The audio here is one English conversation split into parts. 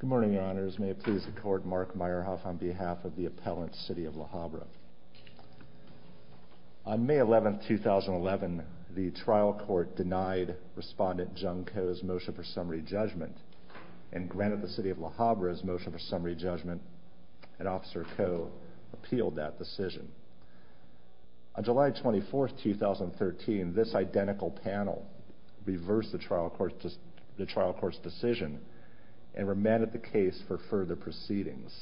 Good morning, Your Honors. May it please the Court, Mark Meyerhoff on behalf of the appellant, City of La Habra. On May 11, 2011, the trial court denied respondent Jung Ko's motion for summary judgment, and granted the City of La Habra's motion for summary judgment, and Officer Ko appealed that decision. On July 24, 2013, this identical panel reversed the trial court's decision and remanded the case for further proceedings.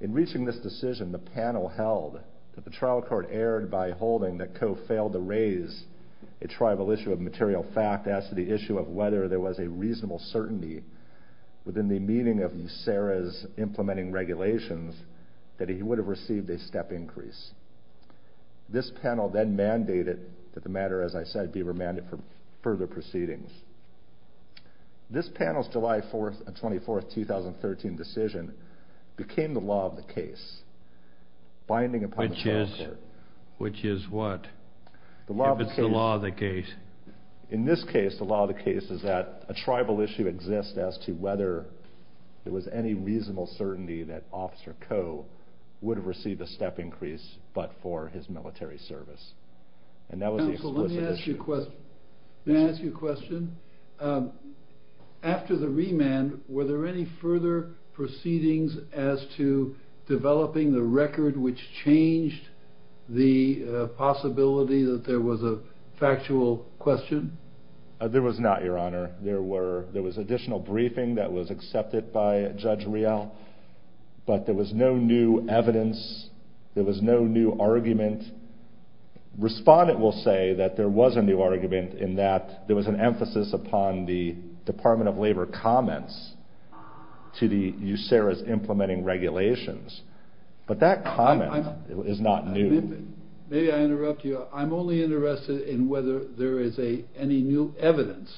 In reaching this decision, the panel held that the trial court erred by holding that Ko failed to raise a tribal issue of material fact as to the issue of whether there was a reasonable certainty within the meaning of USERRA's implementing regulations that he would have received a step increase. This panel then This panel's July 24, 2013 decision became the law of the case, binding upon the trial court. Which is what? If it's the law of the case. In this case, the law of the case is that a tribal issue exists as to whether there was any reasonable certainty that Officer Ko would have received a step increase but for his military service. And that was the explicit issue. Counsel, let me ask you a question. After the remand, were there any further proceedings as to developing the record which changed the possibility that there was a factual question? There was not, Your Honor. There was additional briefing that was accepted by Judge Riel, but there was no new evidence. There was no new argument. Respondent will say that there was a new argument in that there was an emphasis upon the Department of Labor comments to the USERRA's implementing regulations. But that comment is not new. Maybe I interrupt you. I'm only interested in whether there is any new evidence,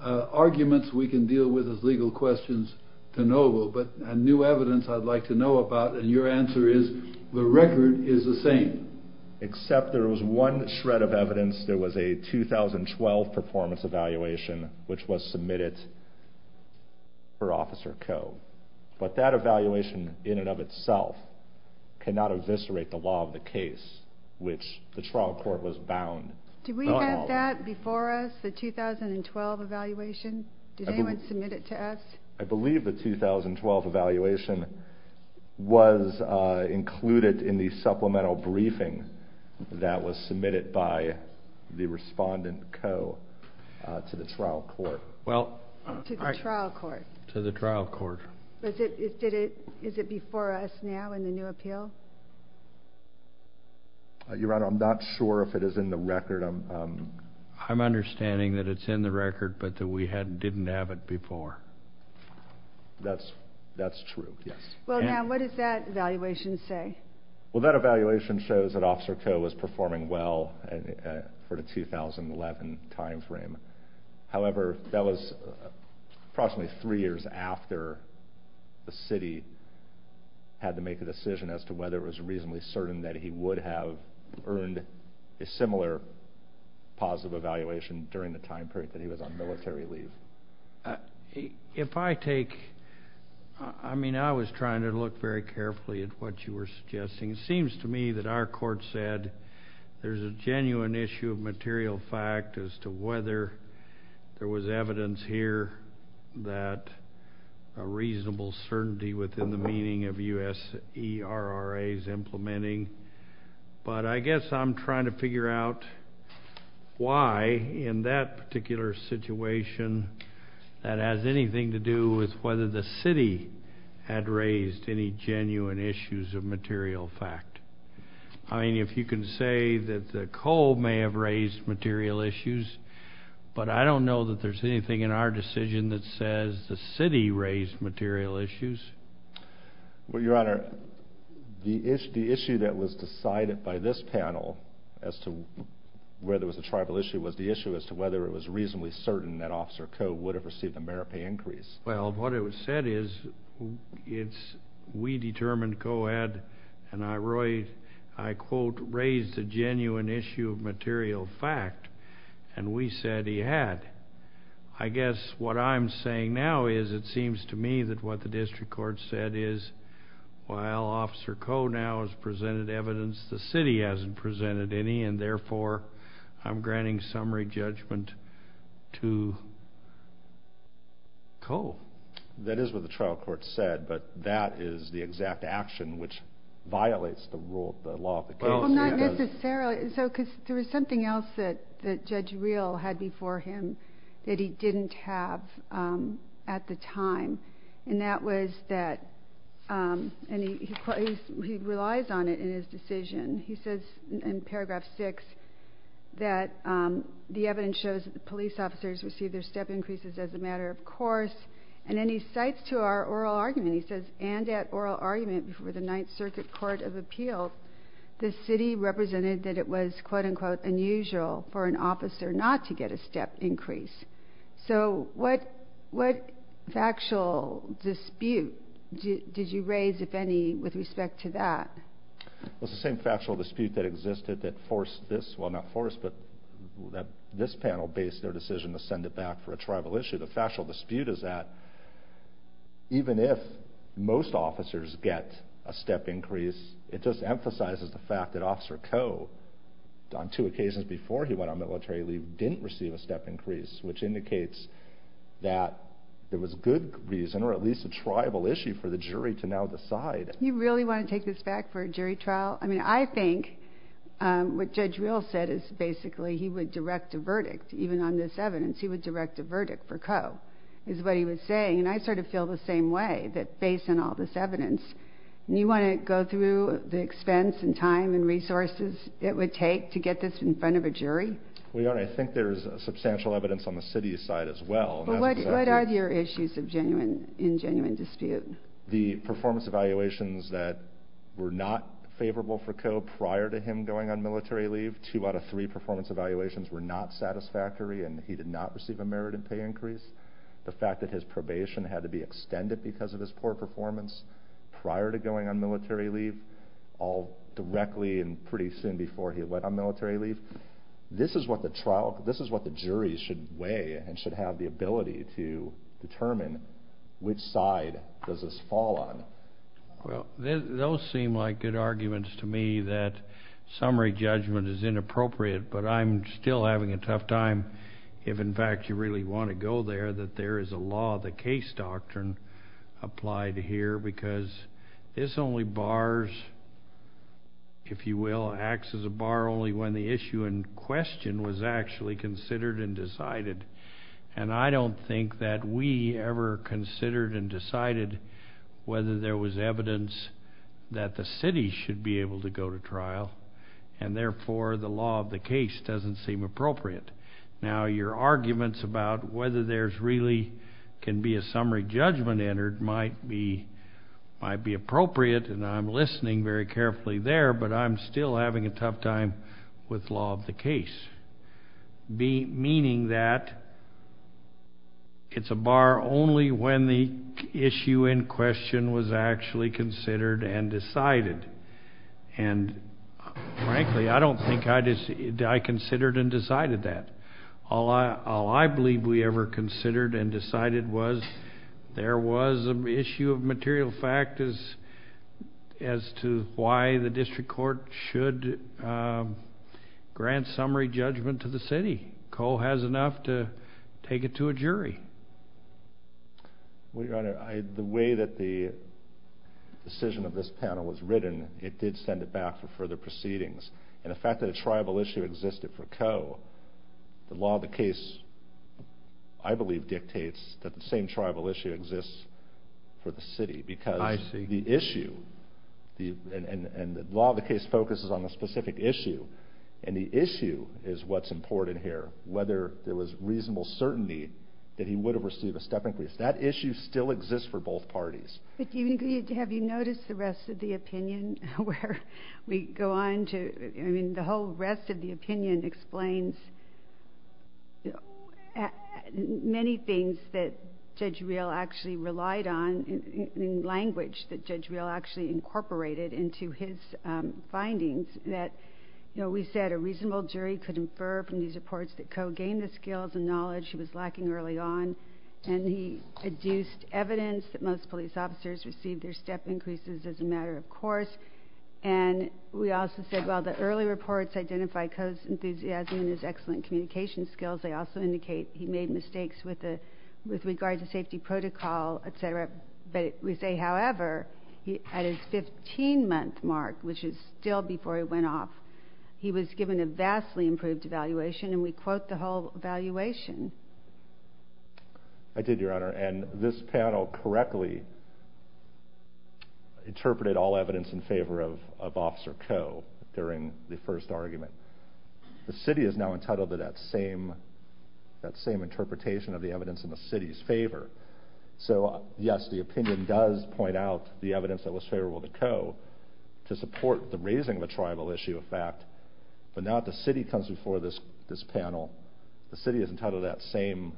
arguments we can deal with as legal questions to know of, and new evidence I'd like to know about. And your answer is, the record is the same. Except there was one shred of evidence. There was a 2012 performance evaluation which was submitted for Officer Ko. But that evaluation in and of itself cannot eviscerate the law of the case, which the trial court was bound. Do we have that before us, the 2012 evaluation? Did anyone submit it to us? I believe the 2012 evaluation was included in the supplemental briefing that was submitted by the Respondent Ko to the trial court. To the trial court? To the trial court. Is it before us now in the new appeal? Your Honor, I'm not sure if it is in the record. I'm understanding that it's in the record, but that we didn't have it before. That's true, yes. Well, now, what does that evaluation say? Well, that evaluation shows that Officer Ko was performing well for the 2011 time frame. However, that was approximately 3 years after the city had to make a decision as to whether it was reasonably certain that he would have earned a similar positive evaluation during the time period that he was on military leave. If I take, I mean, I was trying to look very carefully at what you were suggesting. It seems to me that our court said there's a genuine issue of material fact as to whether there was evidence here that a reasonable certainty within the meaning of USERRA's implementing. But I guess I'm trying to figure out why in that particular situation that has anything to do with whether the city had raised any genuine issues of material fact. I mean, if you can say that Ko may have raised material issues, but I don't know that there's anything in our decision that says the city raised material issues. Well, Your Honor, the issue that was decided by this panel as to whether it was a tribal issue was the issue as to whether it was reasonably certain that Officer Ko would have received a merit pay increase. Well, what it said is we determined Ko had, and I quote, raised a genuine issue of material fact, and we said he had. I guess what I'm saying now is it seems to me that what the district court said is while Officer Ko now has presented evidence, the city hasn't presented any, and therefore I'm granting summary judgment to Ko. That is what the trial court said, but that is the exact action which violates the law of the case. Well, not necessarily, because there was something else that Judge Reel had before him that he didn't have at the time, and that was that, and he relies on it in his decision. He says in paragraph 6 that the evidence shows that the police officers received their step increases as a matter of course, and then he cites to our oral argument, he says, and at oral argument before the Ninth Circuit Court of Appeal, the city represented that it was, quote, unquote, unusual for an officer not to get a step increase. So what factual dispute did you raise, if any, with respect to that? Well, it's the same factual dispute that existed that forced this, well, not forced, but this panel based their decision to send it back for a tribal issue. The factual dispute is that even if most officers get a step increase, it just emphasizes the fact that Officer Ko, on two occasions before he went on military leave, didn't receive a step increase, which indicates that there was good reason or at least a tribal issue for the jury to now decide. You really want to take this back for a jury trial? I mean, I think what Judge Reel said is basically he would direct a verdict. Even on this evidence, he would direct a verdict for Ko is what he was saying, and I sort of feel the same way that based on all this evidence. You want to go through the expense and time and resources it would take to get this in front of a jury? Well, Your Honor, I think there's substantial evidence on the city's side as well. What are your issues of genuine, in genuine dispute? The performance evaluations that were not favorable for Ko prior to him going on military leave. Two out of three performance evaluations were not satisfactory, and he did not receive a merit and pay increase. The fact that his probation had to be extended because of his poor performance prior to going on military leave, all directly and pretty soon before he went on military leave. This is what the jury should weigh and should have the ability to determine which side does this fall on. Well, those seem like good arguments to me that summary judgment is inappropriate, but I'm still having a tough time if, in fact, you really want to go there, that there is a law of the case doctrine applied here because this only bars, if you will, acts as a bar only when the issue in question was actually considered and decided, and I don't think that we ever considered and decided whether there was evidence that the city should be able to go to trial, and therefore the law of the case doesn't seem appropriate. Now, your arguments about whether there really can be a summary judgment entered might be appropriate, and I'm listening very carefully there, but I'm still having a tough time with law of the case, meaning that it's a bar only when the issue in question was actually considered and decided. And frankly, I don't think I considered and decided that. All I believe we ever considered and decided was there was an issue of material fact as to why the district court should grant summary judgment to the city. Cole has enough to take it to a jury. Well, Your Honor, the way that the decision of this panel was written, it did send it back for further proceedings, and the fact that a tribal issue existed for Coe, the law of the case, I believe, dictates that the same tribal issue exists for the city. I see. Because the issue, and the law of the case focuses on a specific issue, and the issue is what's important here, whether there was reasonable certainty that he would have received a step increase. That issue still exists for both parties. But have you noticed the rest of the opinion where we go on to ‑‑ I mean, the whole rest of the opinion explains many things that Judge Reel actually relied on in language that Judge Reel actually incorporated into his findings, that we said a reasonable jury could infer from these reports that Coe gained the skills and knowledge he was lacking early on, and he adduced evidence that most police officers received their step increases as a matter of course. And we also said, well, the early reports identify Coe's enthusiasm and his excellent communication skills. They also indicate he made mistakes with regard to safety protocol, et cetera. We say, however, at his 15‑month mark, which is still before he went off, he was given a vastly improved evaluation, and we quote the whole evaluation. I did, Your Honor, and this panel correctly interpreted all evidence in favor of Officer Coe during the first argument. The city is now entitled to that same interpretation of the evidence in the city's favor. So, yes, the opinion does point out the evidence that was favorable to Coe to support the raising of a tribal issue, in fact, but now that the city comes before this panel, the city is entitled to that same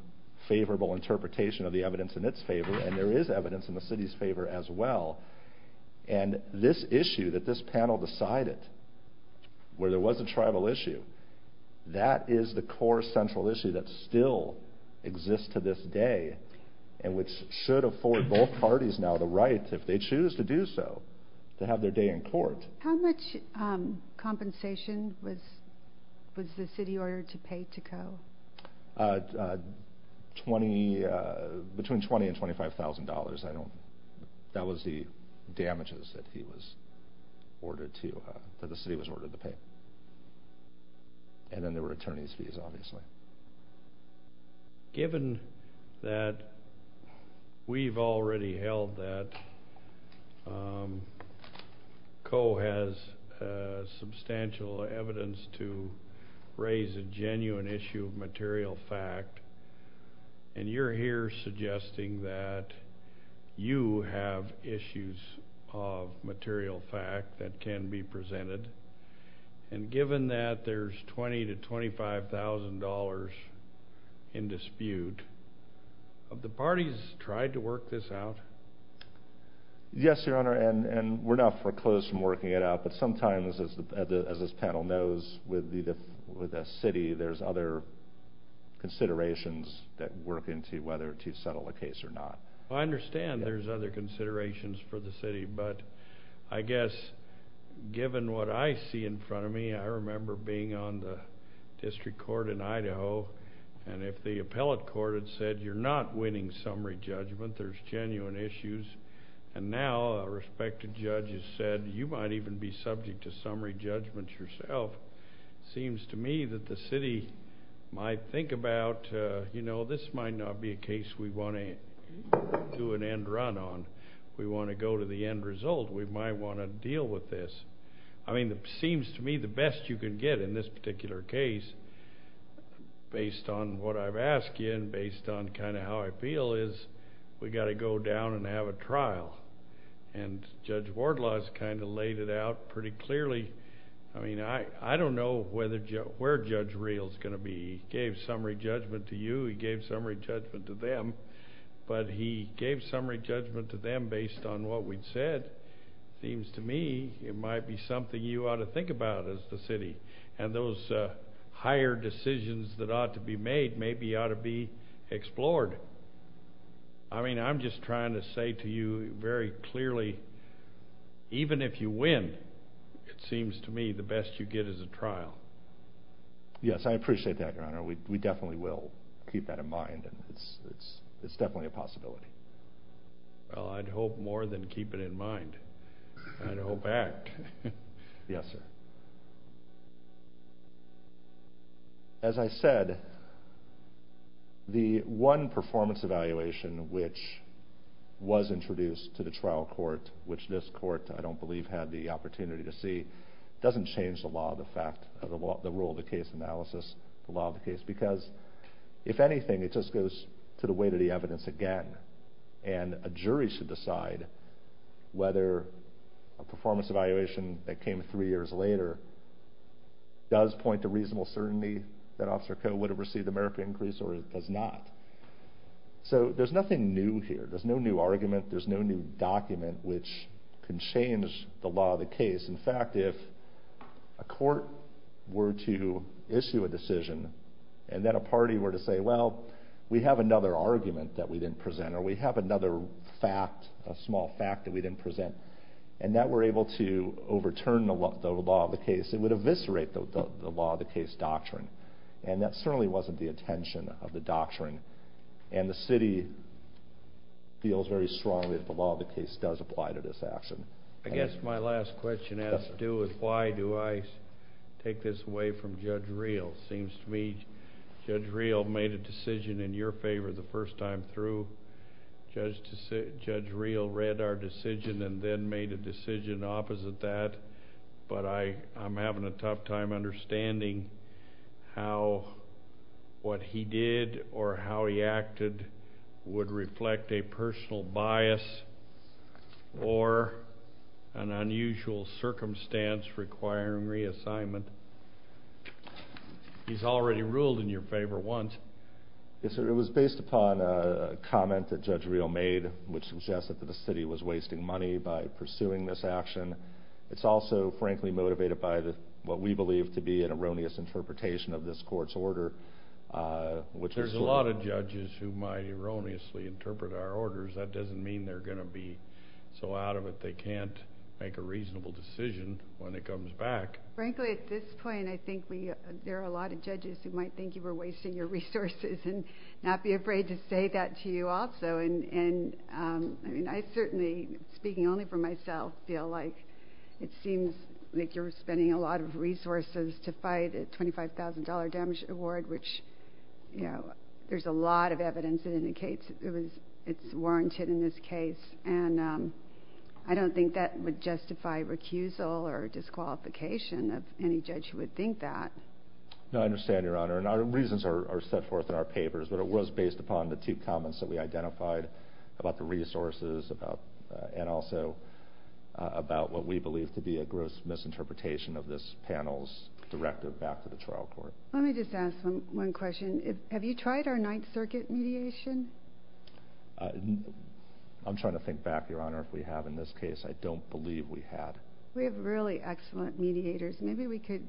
favorable interpretation of the evidence in its favor, and there is evidence in the city's favor as well. And this issue that this panel decided, where there was a tribal issue, that is the core central issue that still exists to this day and which should afford both parties now the right, if they choose to do so, to have their day in court. How much compensation was the city ordered to pay to Coe? Between $20,000 and $25,000. That was the damages that the city was ordered to pay. And then there were attorney's fees, obviously. Given that we've already held that Coe has substantial evidence to raise a genuine issue of material fact, and you're here suggesting that you have issues of material fact that can be presented, and given that there's $20,000 to $25,000 in dispute, have the parties tried to work this out? Yes, Your Honor, and we're not foreclosed from working it out, but sometimes, as this panel knows, with a city there's other considerations that work into whether to settle a case or not. I understand there's other considerations for the city, but I guess given what I see in front of me, I remember being on the district court in Idaho, and if the appellate court had said you're not winning summary judgment, there's genuine issues, and now a respected judge has said you might even be subject to summary judgments yourself. It seems to me that the city might think about, you know, this might not be a case we want to do an end run on. We want to go to the end result. We might want to deal with this. I mean, it seems to me the best you can get in this particular case, based on what I've asked you and based on kind of how I feel, is we've got to go down and have a trial, and Judge Wardlaw has kind of laid it out pretty clearly. I mean, I don't know where Judge Real is going to be. He gave summary judgment to you. He gave summary judgment to them, but he gave summary judgment to them based on what we'd said. It seems to me it might be something you ought to think about as the city, and those higher decisions that ought to be made maybe ought to be explored. I mean, I'm just trying to say to you very clearly, even if you win, it seems to me the best you get is a trial. Yes, I appreciate that, Your Honor. We definitely will keep that in mind. It's definitely a possibility. Well, I'd hope more than keep it in mind. I'd hope act. Yes, sir. As I said, the one performance evaluation which was introduced to the trial court, which this court, I don't believe, had the opportunity to see, doesn't change the law, the fact, the rule of the case analysis, the law of the case, because if anything, it just goes to the weight of the evidence again, and a jury should decide whether a performance evaluation that came three years later does point to reasonable certainty that Officer Coe would have received a merit increase or does not. So there's nothing new here. There's no new argument. There's no new document which can change the law of the case. In fact, if a court were to issue a decision and then a party were to say, well, we have another argument that we didn't present, or we have another fact, a small fact that we didn't present, and that we're able to overturn the law of the case, it would eviscerate the law of the case doctrine, and that certainly wasn't the intention of the doctrine, and the city feels very strongly that the law of the case does apply to this action. I guess my last question has to do with why do I take this away from Judge Reel? It seems to me Judge Reel made a decision in your favor the first time through. Judge Reel read our decision and then made a decision opposite that, but I'm having a tough time understanding how what he did or how he acted would reflect a personal bias or an unusual circumstance requiring reassignment. He's already ruled in your favor once. Yes, sir. It was based upon a comment that Judge Reel made, which suggested that the city was wasting money by pursuing this action. It's also, frankly, motivated by what we believe to be an erroneous interpretation of this court's order, which there's a lot of judges who might erroneously interpret our orders. That doesn't mean they're going to be so out of it. They can't make a reasonable decision when it comes back. Frankly, at this point, I think there are a lot of judges who might think you were wasting your resources and not be afraid to say that to you also, and I certainly, speaking only for myself, feel like it seems like you're spending a lot of resources to fight a $25,000 damage award which there's a lot of evidence that indicates it's warranted in this case, and I don't think that would justify recusal or disqualification of any judge who would think that. No, I understand, Your Honor, and our reasons are set forth in our papers, but it was based upon the two comments that we identified about the resources and also about what we believe to be a gross misinterpretation of this panel's directive back to the trial court. Let me just ask one question. Have you tried our Ninth Circuit mediation? I'm trying to think back, Your Honor, if we have in this case. I don't believe we have. We have really excellent mediators. Maybe we could,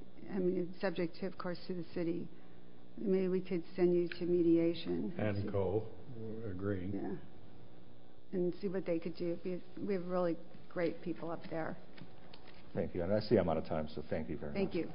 subject to, of course, to the city, maybe we could send you to mediation. And co-agreeing. Yeah, and see what they could do. We have really great people up there. Thank you, and I see I'm out of time, so thank you very much. Thank you.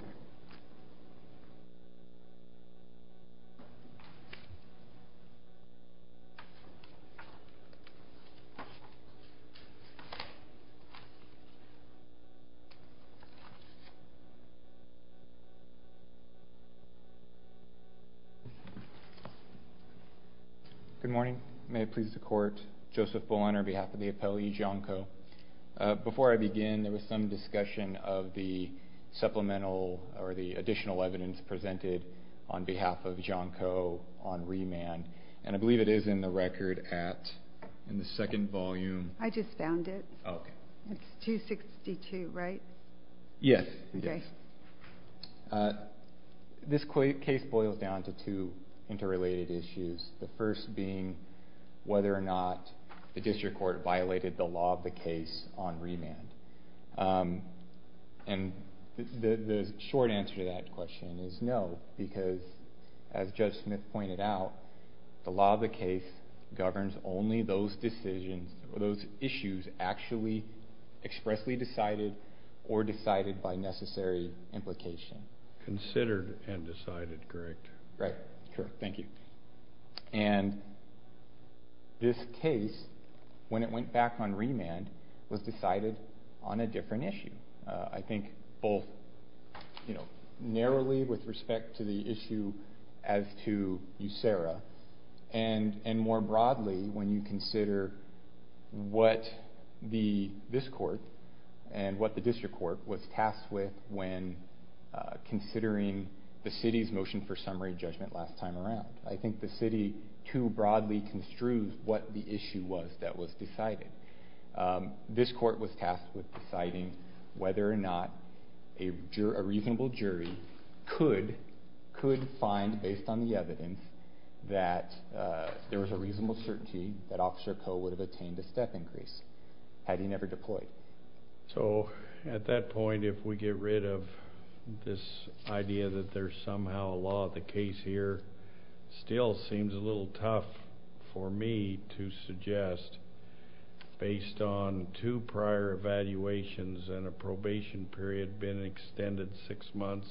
Good morning. May it please the Court. Joseph Bull on our behalf of the appellee, Gianco. Before I begin, there was some discussion of the supplemental or the additional evidence presented on behalf of Gianco on remand, and I believe it is in the record in the second volume. I just found it. Okay. It's 262, right? Yes. Okay. This case boils down to two interrelated issues, the first being whether or not the district court violated the law of the case on remand. And the short answer to that question is no, because, as Judge Smith pointed out, the law of the case governs only those decisions, those issues actually expressly decided or decided by necessary implication. Considered and decided, correct? Right. Sure. Thank you. And this case, when it went back on remand, was decided on a different issue. I think both narrowly with respect to the issue as to USERRA and more broadly when you consider what this court and what the district court was tasked with when considering the city's motion for summary judgment last time around. I think the city too broadly construed what the issue was that was decided. This court was tasked with deciding whether or not a reasonable jury could find, based on the evidence, that there was a reasonable certainty that Officer Coe would have attained a step increase had he never deployed. So at that point, if we get rid of this idea that there's somehow a law of the case here, it still seems a little tough for me to suggest, based on two prior evaluations and a probation period being extended six months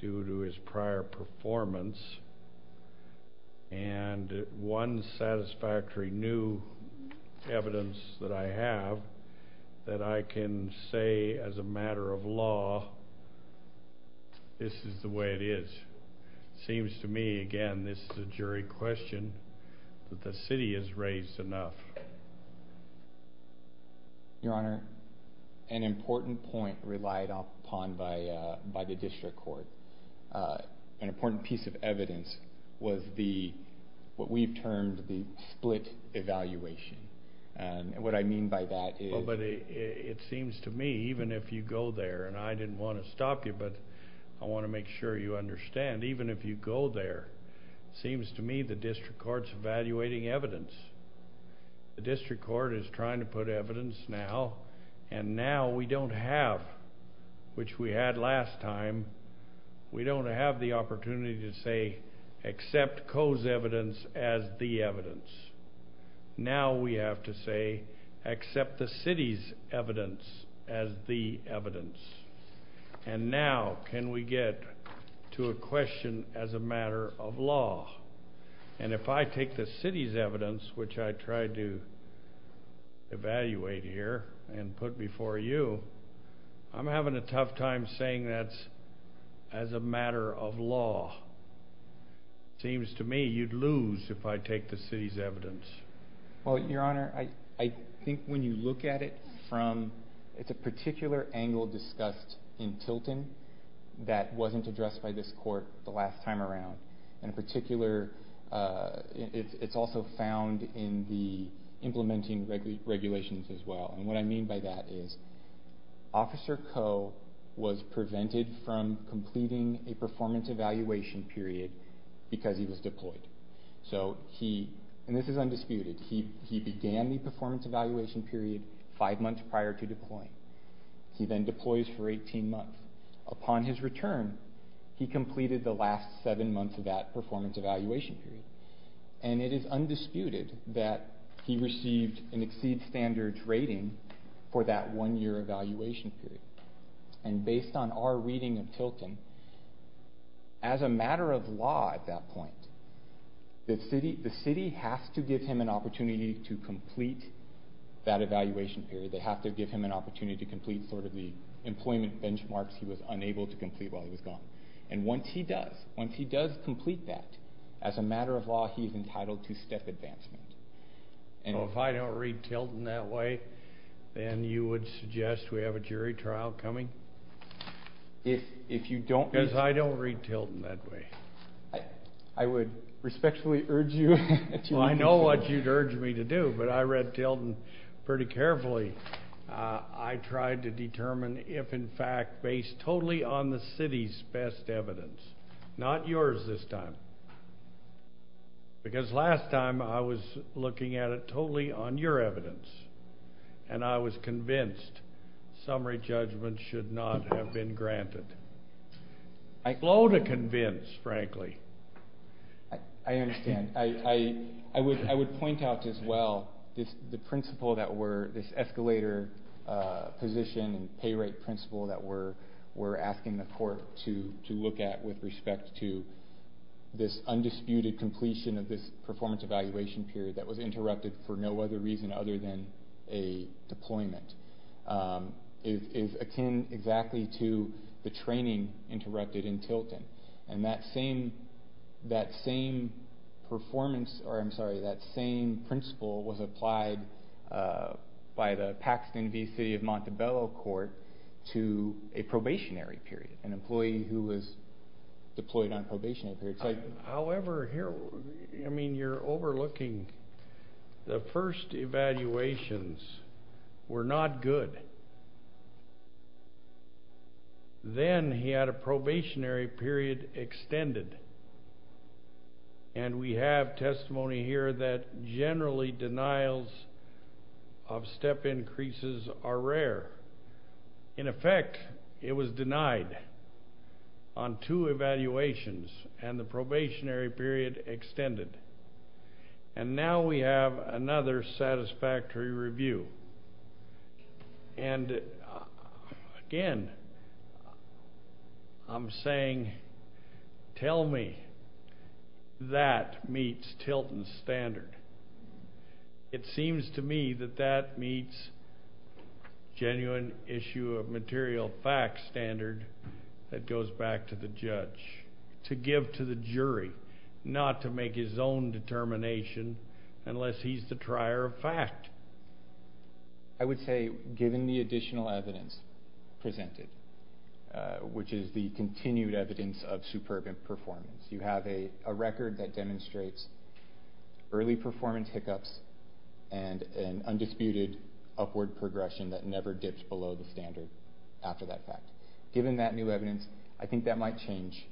due to his prior performance, and one satisfactory new evidence that I have, that I can say as a matter of law this is the way it is. It seems to me, again, this is a jury question, that the city has raised enough. Your Honor, an important point relied upon by the district court, an important piece of evidence, was what we've termed the split evaluation. What I mean by that is... Well, but it seems to me, even if you go there, and I didn't want to stop you, but I want to make sure you understand, even if you go there, it seems to me the district court's evaluating evidence. The district court is trying to put evidence now, and now we don't have, which we had last time, we don't have the opportunity to say accept Coe's evidence as the evidence. Now we have to say accept the city's evidence as the evidence. And now can we get to a question as a matter of law? And if I take the city's evidence, which I tried to evaluate here and put before you, I'm having a tough time saying that as a matter of law. It seems to me you'd lose if I take the city's evidence. Well, Your Honor, I think when you look at it from... it's a particular angle discussed in Tilton that wasn't addressed by this court the last time around. And in particular, it's also found in the implementing regulations as well. And what I mean by that is Officer Coe was prevented from completing a performance evaluation period because he was deployed. And this is undisputed. He began the performance evaluation period five months prior to deploying. He then deploys for 18 months. Upon his return, he completed the last seven months of that performance evaluation period. And it is undisputed that he received an Exceed Standards rating for that one-year evaluation period. And based on our reading of Tilton, as a matter of law at that point, the city has to give him an opportunity to complete that evaluation period. They have to give him an opportunity to complete sort of the employment benchmarks he was unable to complete while he was gone. And once he does, once he does complete that, as a matter of law he is entitled to step advancement. So if I don't read Tilton that way, then you would suggest we have a jury trial coming? If you don't... Because I don't read Tilton that way. I would respectfully urge you... Well, I know what you'd urge me to do, but I read Tilton pretty carefully. I tried to determine if, in fact, based totally on the city's best evidence, not yours this time. Because last time I was looking at it totally on your evidence, and I was convinced summary judgment should not have been granted. Slow to convince, frankly. I understand. I would point out as well the principle that we're... this escalator position and pay rate principle that we're asking the court to look at with respect to this undisputed completion of this performance evaluation period that was interrupted for no other reason other than a deployment is akin exactly to the training interrupted in Tilton. And that same principle was applied by the Paxton v. City of Montebello Court to a probationary period, an employee who was deployed on a probationary period. However, you're overlooking the first evaluations were not good. Then he had a probationary period extended. And we have testimony here that generally denials of step increases are rare. In effect, it was denied on two evaluations, and the probationary period extended. And now we have another satisfactory review. And, again, I'm saying tell me that meets Tilton's standard. It seems to me that that meets genuine issue of material facts standard that goes back to the judge to give to the jury, not to make his own determination unless he's the trier of fact. I would say given the additional evidence presented, which is the continued evidence of superb performance, you have a record that demonstrates early performance hiccups and an undisputed upward progression that never dips below the standard after that fact. Given that new evidence, I think that might change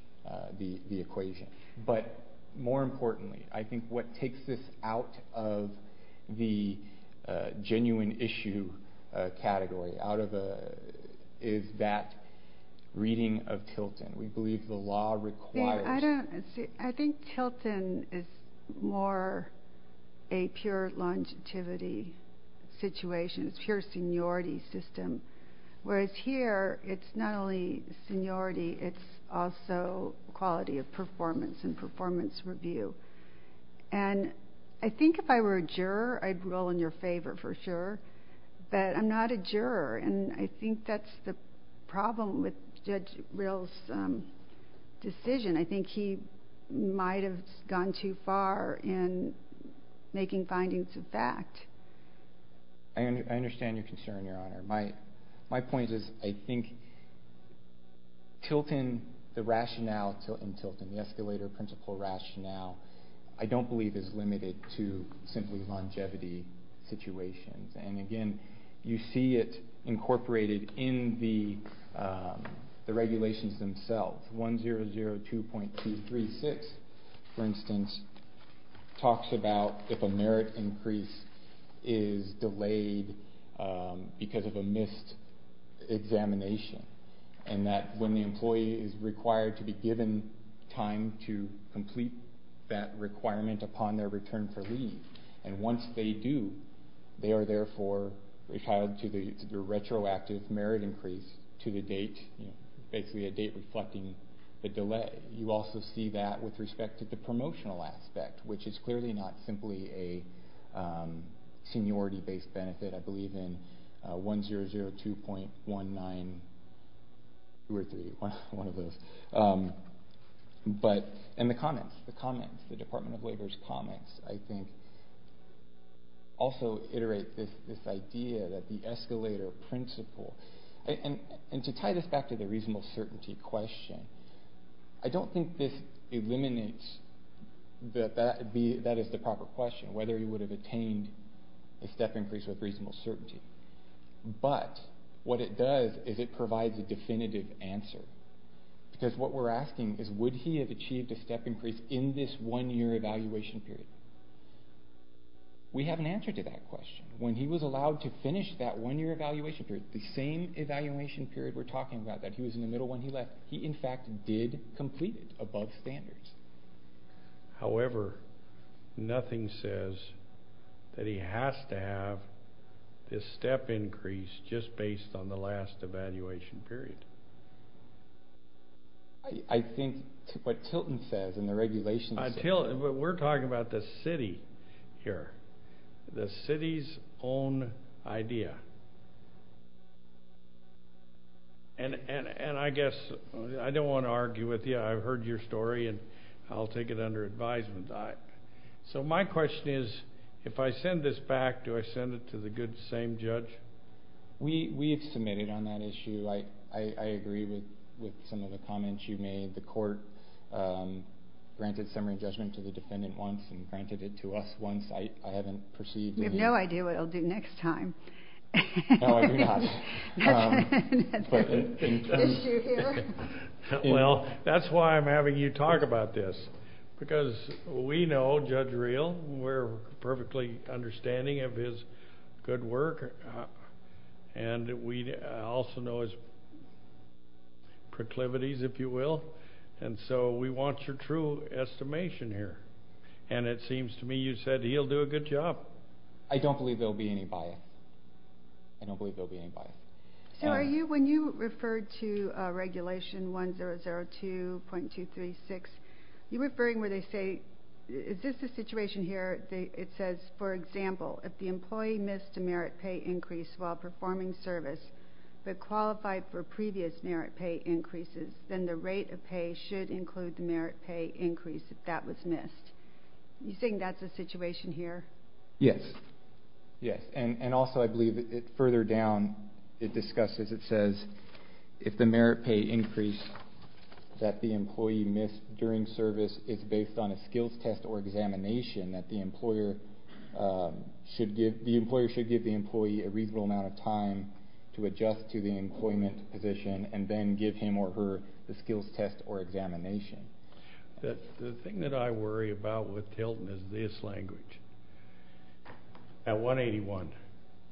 the equation. But, more importantly, I think what takes this out of the genuine issue category is that reading of Tilton. We believe the law requires it. I think Tilton is more a pure longevity situation, a pure seniority system. Whereas here, it's not only seniority, it's also quality of performance and performance review. And I think if I were a juror, I'd roll in your favor for sure. But I'm not a juror, and I think that's the problem with Judge Rill's decision. I think he might have gone too far in making findings of fact. I understand your concern, Your Honor. My point is I think Tilton, the rationale in Tilton, the escalator principle rationale, I don't believe is limited to simply longevity situations. And, again, you see it incorporated in the regulations themselves. 1002.236, for instance, talks about if a merit increase is delayed because of a missed examination. And that when the employee is required to be given time to complete that requirement upon their return for leave, and once they do, they are therefore required to do a retroactive merit increase to the date, basically a date reflecting the delay. You also see that with respect to the promotional aspect, which is clearly not simply a seniority-based benefit. I believe in 1002.1923, one of those. And the comments, the comments, the Department of Labor's comments, I think also iterate this idea that the escalator principle, and to tie this back to the reasonable certainty question, I don't think this eliminates that that is the proper question, whether he would have attained a step increase with reasonable certainty. But what it does is it provides a definitive answer because what we're asking is would he have achieved a step increase in this one-year evaluation period. We have an answer to that question. When he was allowed to finish that one-year evaluation period, the same evaluation period we're talking about, that he was in the middle when he left, he, in fact, did complete it above standards. However, nothing says that he has to have this step increase just based on the last evaluation period. I think what Tilton says in the regulations… But we're talking about the city here, the city's own idea. And I guess I don't want to argue with you. I've heard your story, and I'll take it under advisement. So my question is, if I send this back, do I send it to the good same judge? We have submitted on that issue. I agree with some of the comments you made. The court granted summary judgment to the defendant once and granted it to us once. I haven't perceived… We have no idea what it will do next time. No, I do not. That's the issue here. Well, that's why I'm having you talk about this, because we know Judge Reel. We're perfectly understanding of his good work, and we also know his proclivities, if you will. And so we want your true estimation here. And it seems to me you said he'll do a good job. I don't believe there will be any bias. I don't believe there will be any bias. So when you referred to Regulation 1002.236, you were referring where they say, is this the situation here that it says, for example, if the employee missed a merit pay increase while performing service but qualified for previous merit pay increases, then the rate of pay should include the merit pay increase if that was missed. You think that's the situation here? Yes. Yes, and also I believe further down it discusses, it says, if the merit pay increase that the employee missed during service is based on a skills test or examination that the employer should give the employee a reasonable amount of time to adjust to the employment position and then give him or her the skills test or examination. The thing that I worry about with Tilton is this language. At 181,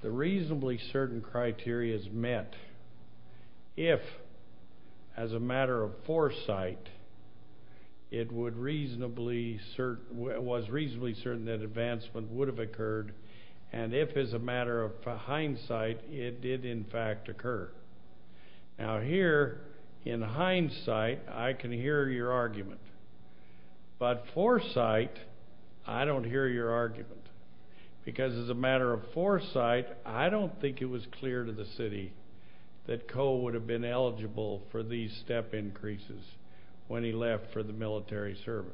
the reasonably certain criteria is met. If as a matter of foresight it was reasonably certain that advancement would have occurred and if as a matter of hindsight it did, in fact, occur. Now here, in hindsight, I can hear your argument. But foresight, I don't hear your argument because as a matter of foresight, I don't think it was clear to the city that Coe would have been eligible for these step increases when he left for the military service.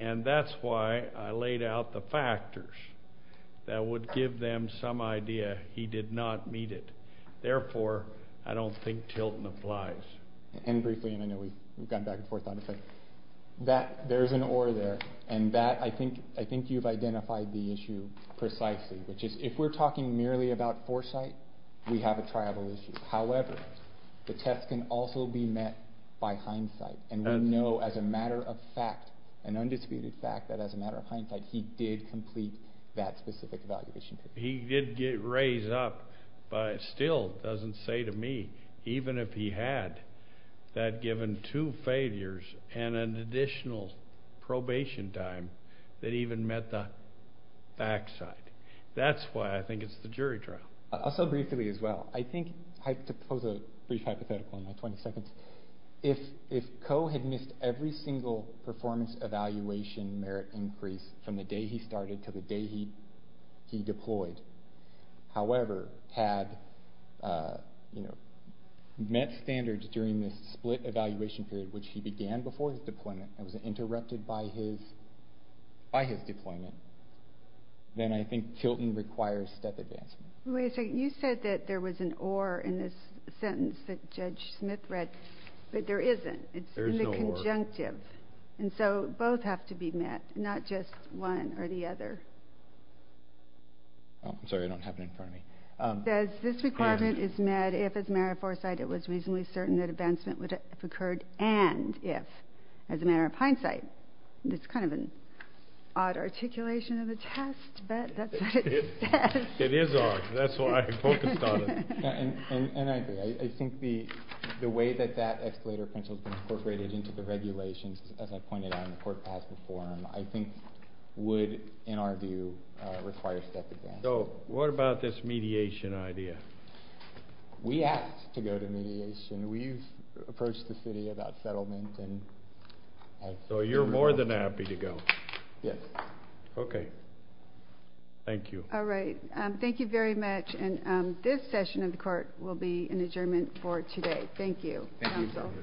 And that's why I laid out the factors that would give them some idea he did not meet it. Therefore, I don't think Tilton applies. And briefly, and I know we've gone back and forth on this, but there's an or there. And that, I think you've identified the issue precisely, which is if we're talking merely about foresight, we have a triable issue. However, the test can also be met by hindsight. And we know as a matter of fact, an undisputed fact, that as a matter of hindsight, he did complete that specific evaluation. He did get raised up, but it still doesn't say to me, even if he had, that given two failures and an additional probation time, that he even met the backside. That's why I think it's the jury trial. Also briefly as well, I think to pose a brief hypothetical in my 20 seconds, if Coe had missed every single performance evaluation merit increase from the day he started to the day he deployed, however, had met standards during this split evaluation period, which he began before his deployment and was interrupted by his deployment, then I think Tilton requires step advancement. Wait a second. You said that there was an or in this sentence that Judge Smith read, but there isn't. There's no or. It's in the conjunctive. And so both have to be met, not just one or the other. I'm sorry. I don't have it in front of me. This requirement is met if, as a matter of foresight, it was reasonably certain that advancement would have occurred and if, as a matter of hindsight. It's kind of an odd articulation of the test, but that's what it says. It is odd. That's why I focused on it. And I agree. I think the way that that escalator principle has been incorporated into the regulations, as I pointed out in the court past before him, I think would, in our view, require step advancement. So what about this mediation idea? We asked to go to mediation. We've approached the city about settlement. So you're more than happy to go? Yes. Okay. Thank you. All right. Thank you very much. And this session of the court will be an adjournment for today. Thank you. Thank you.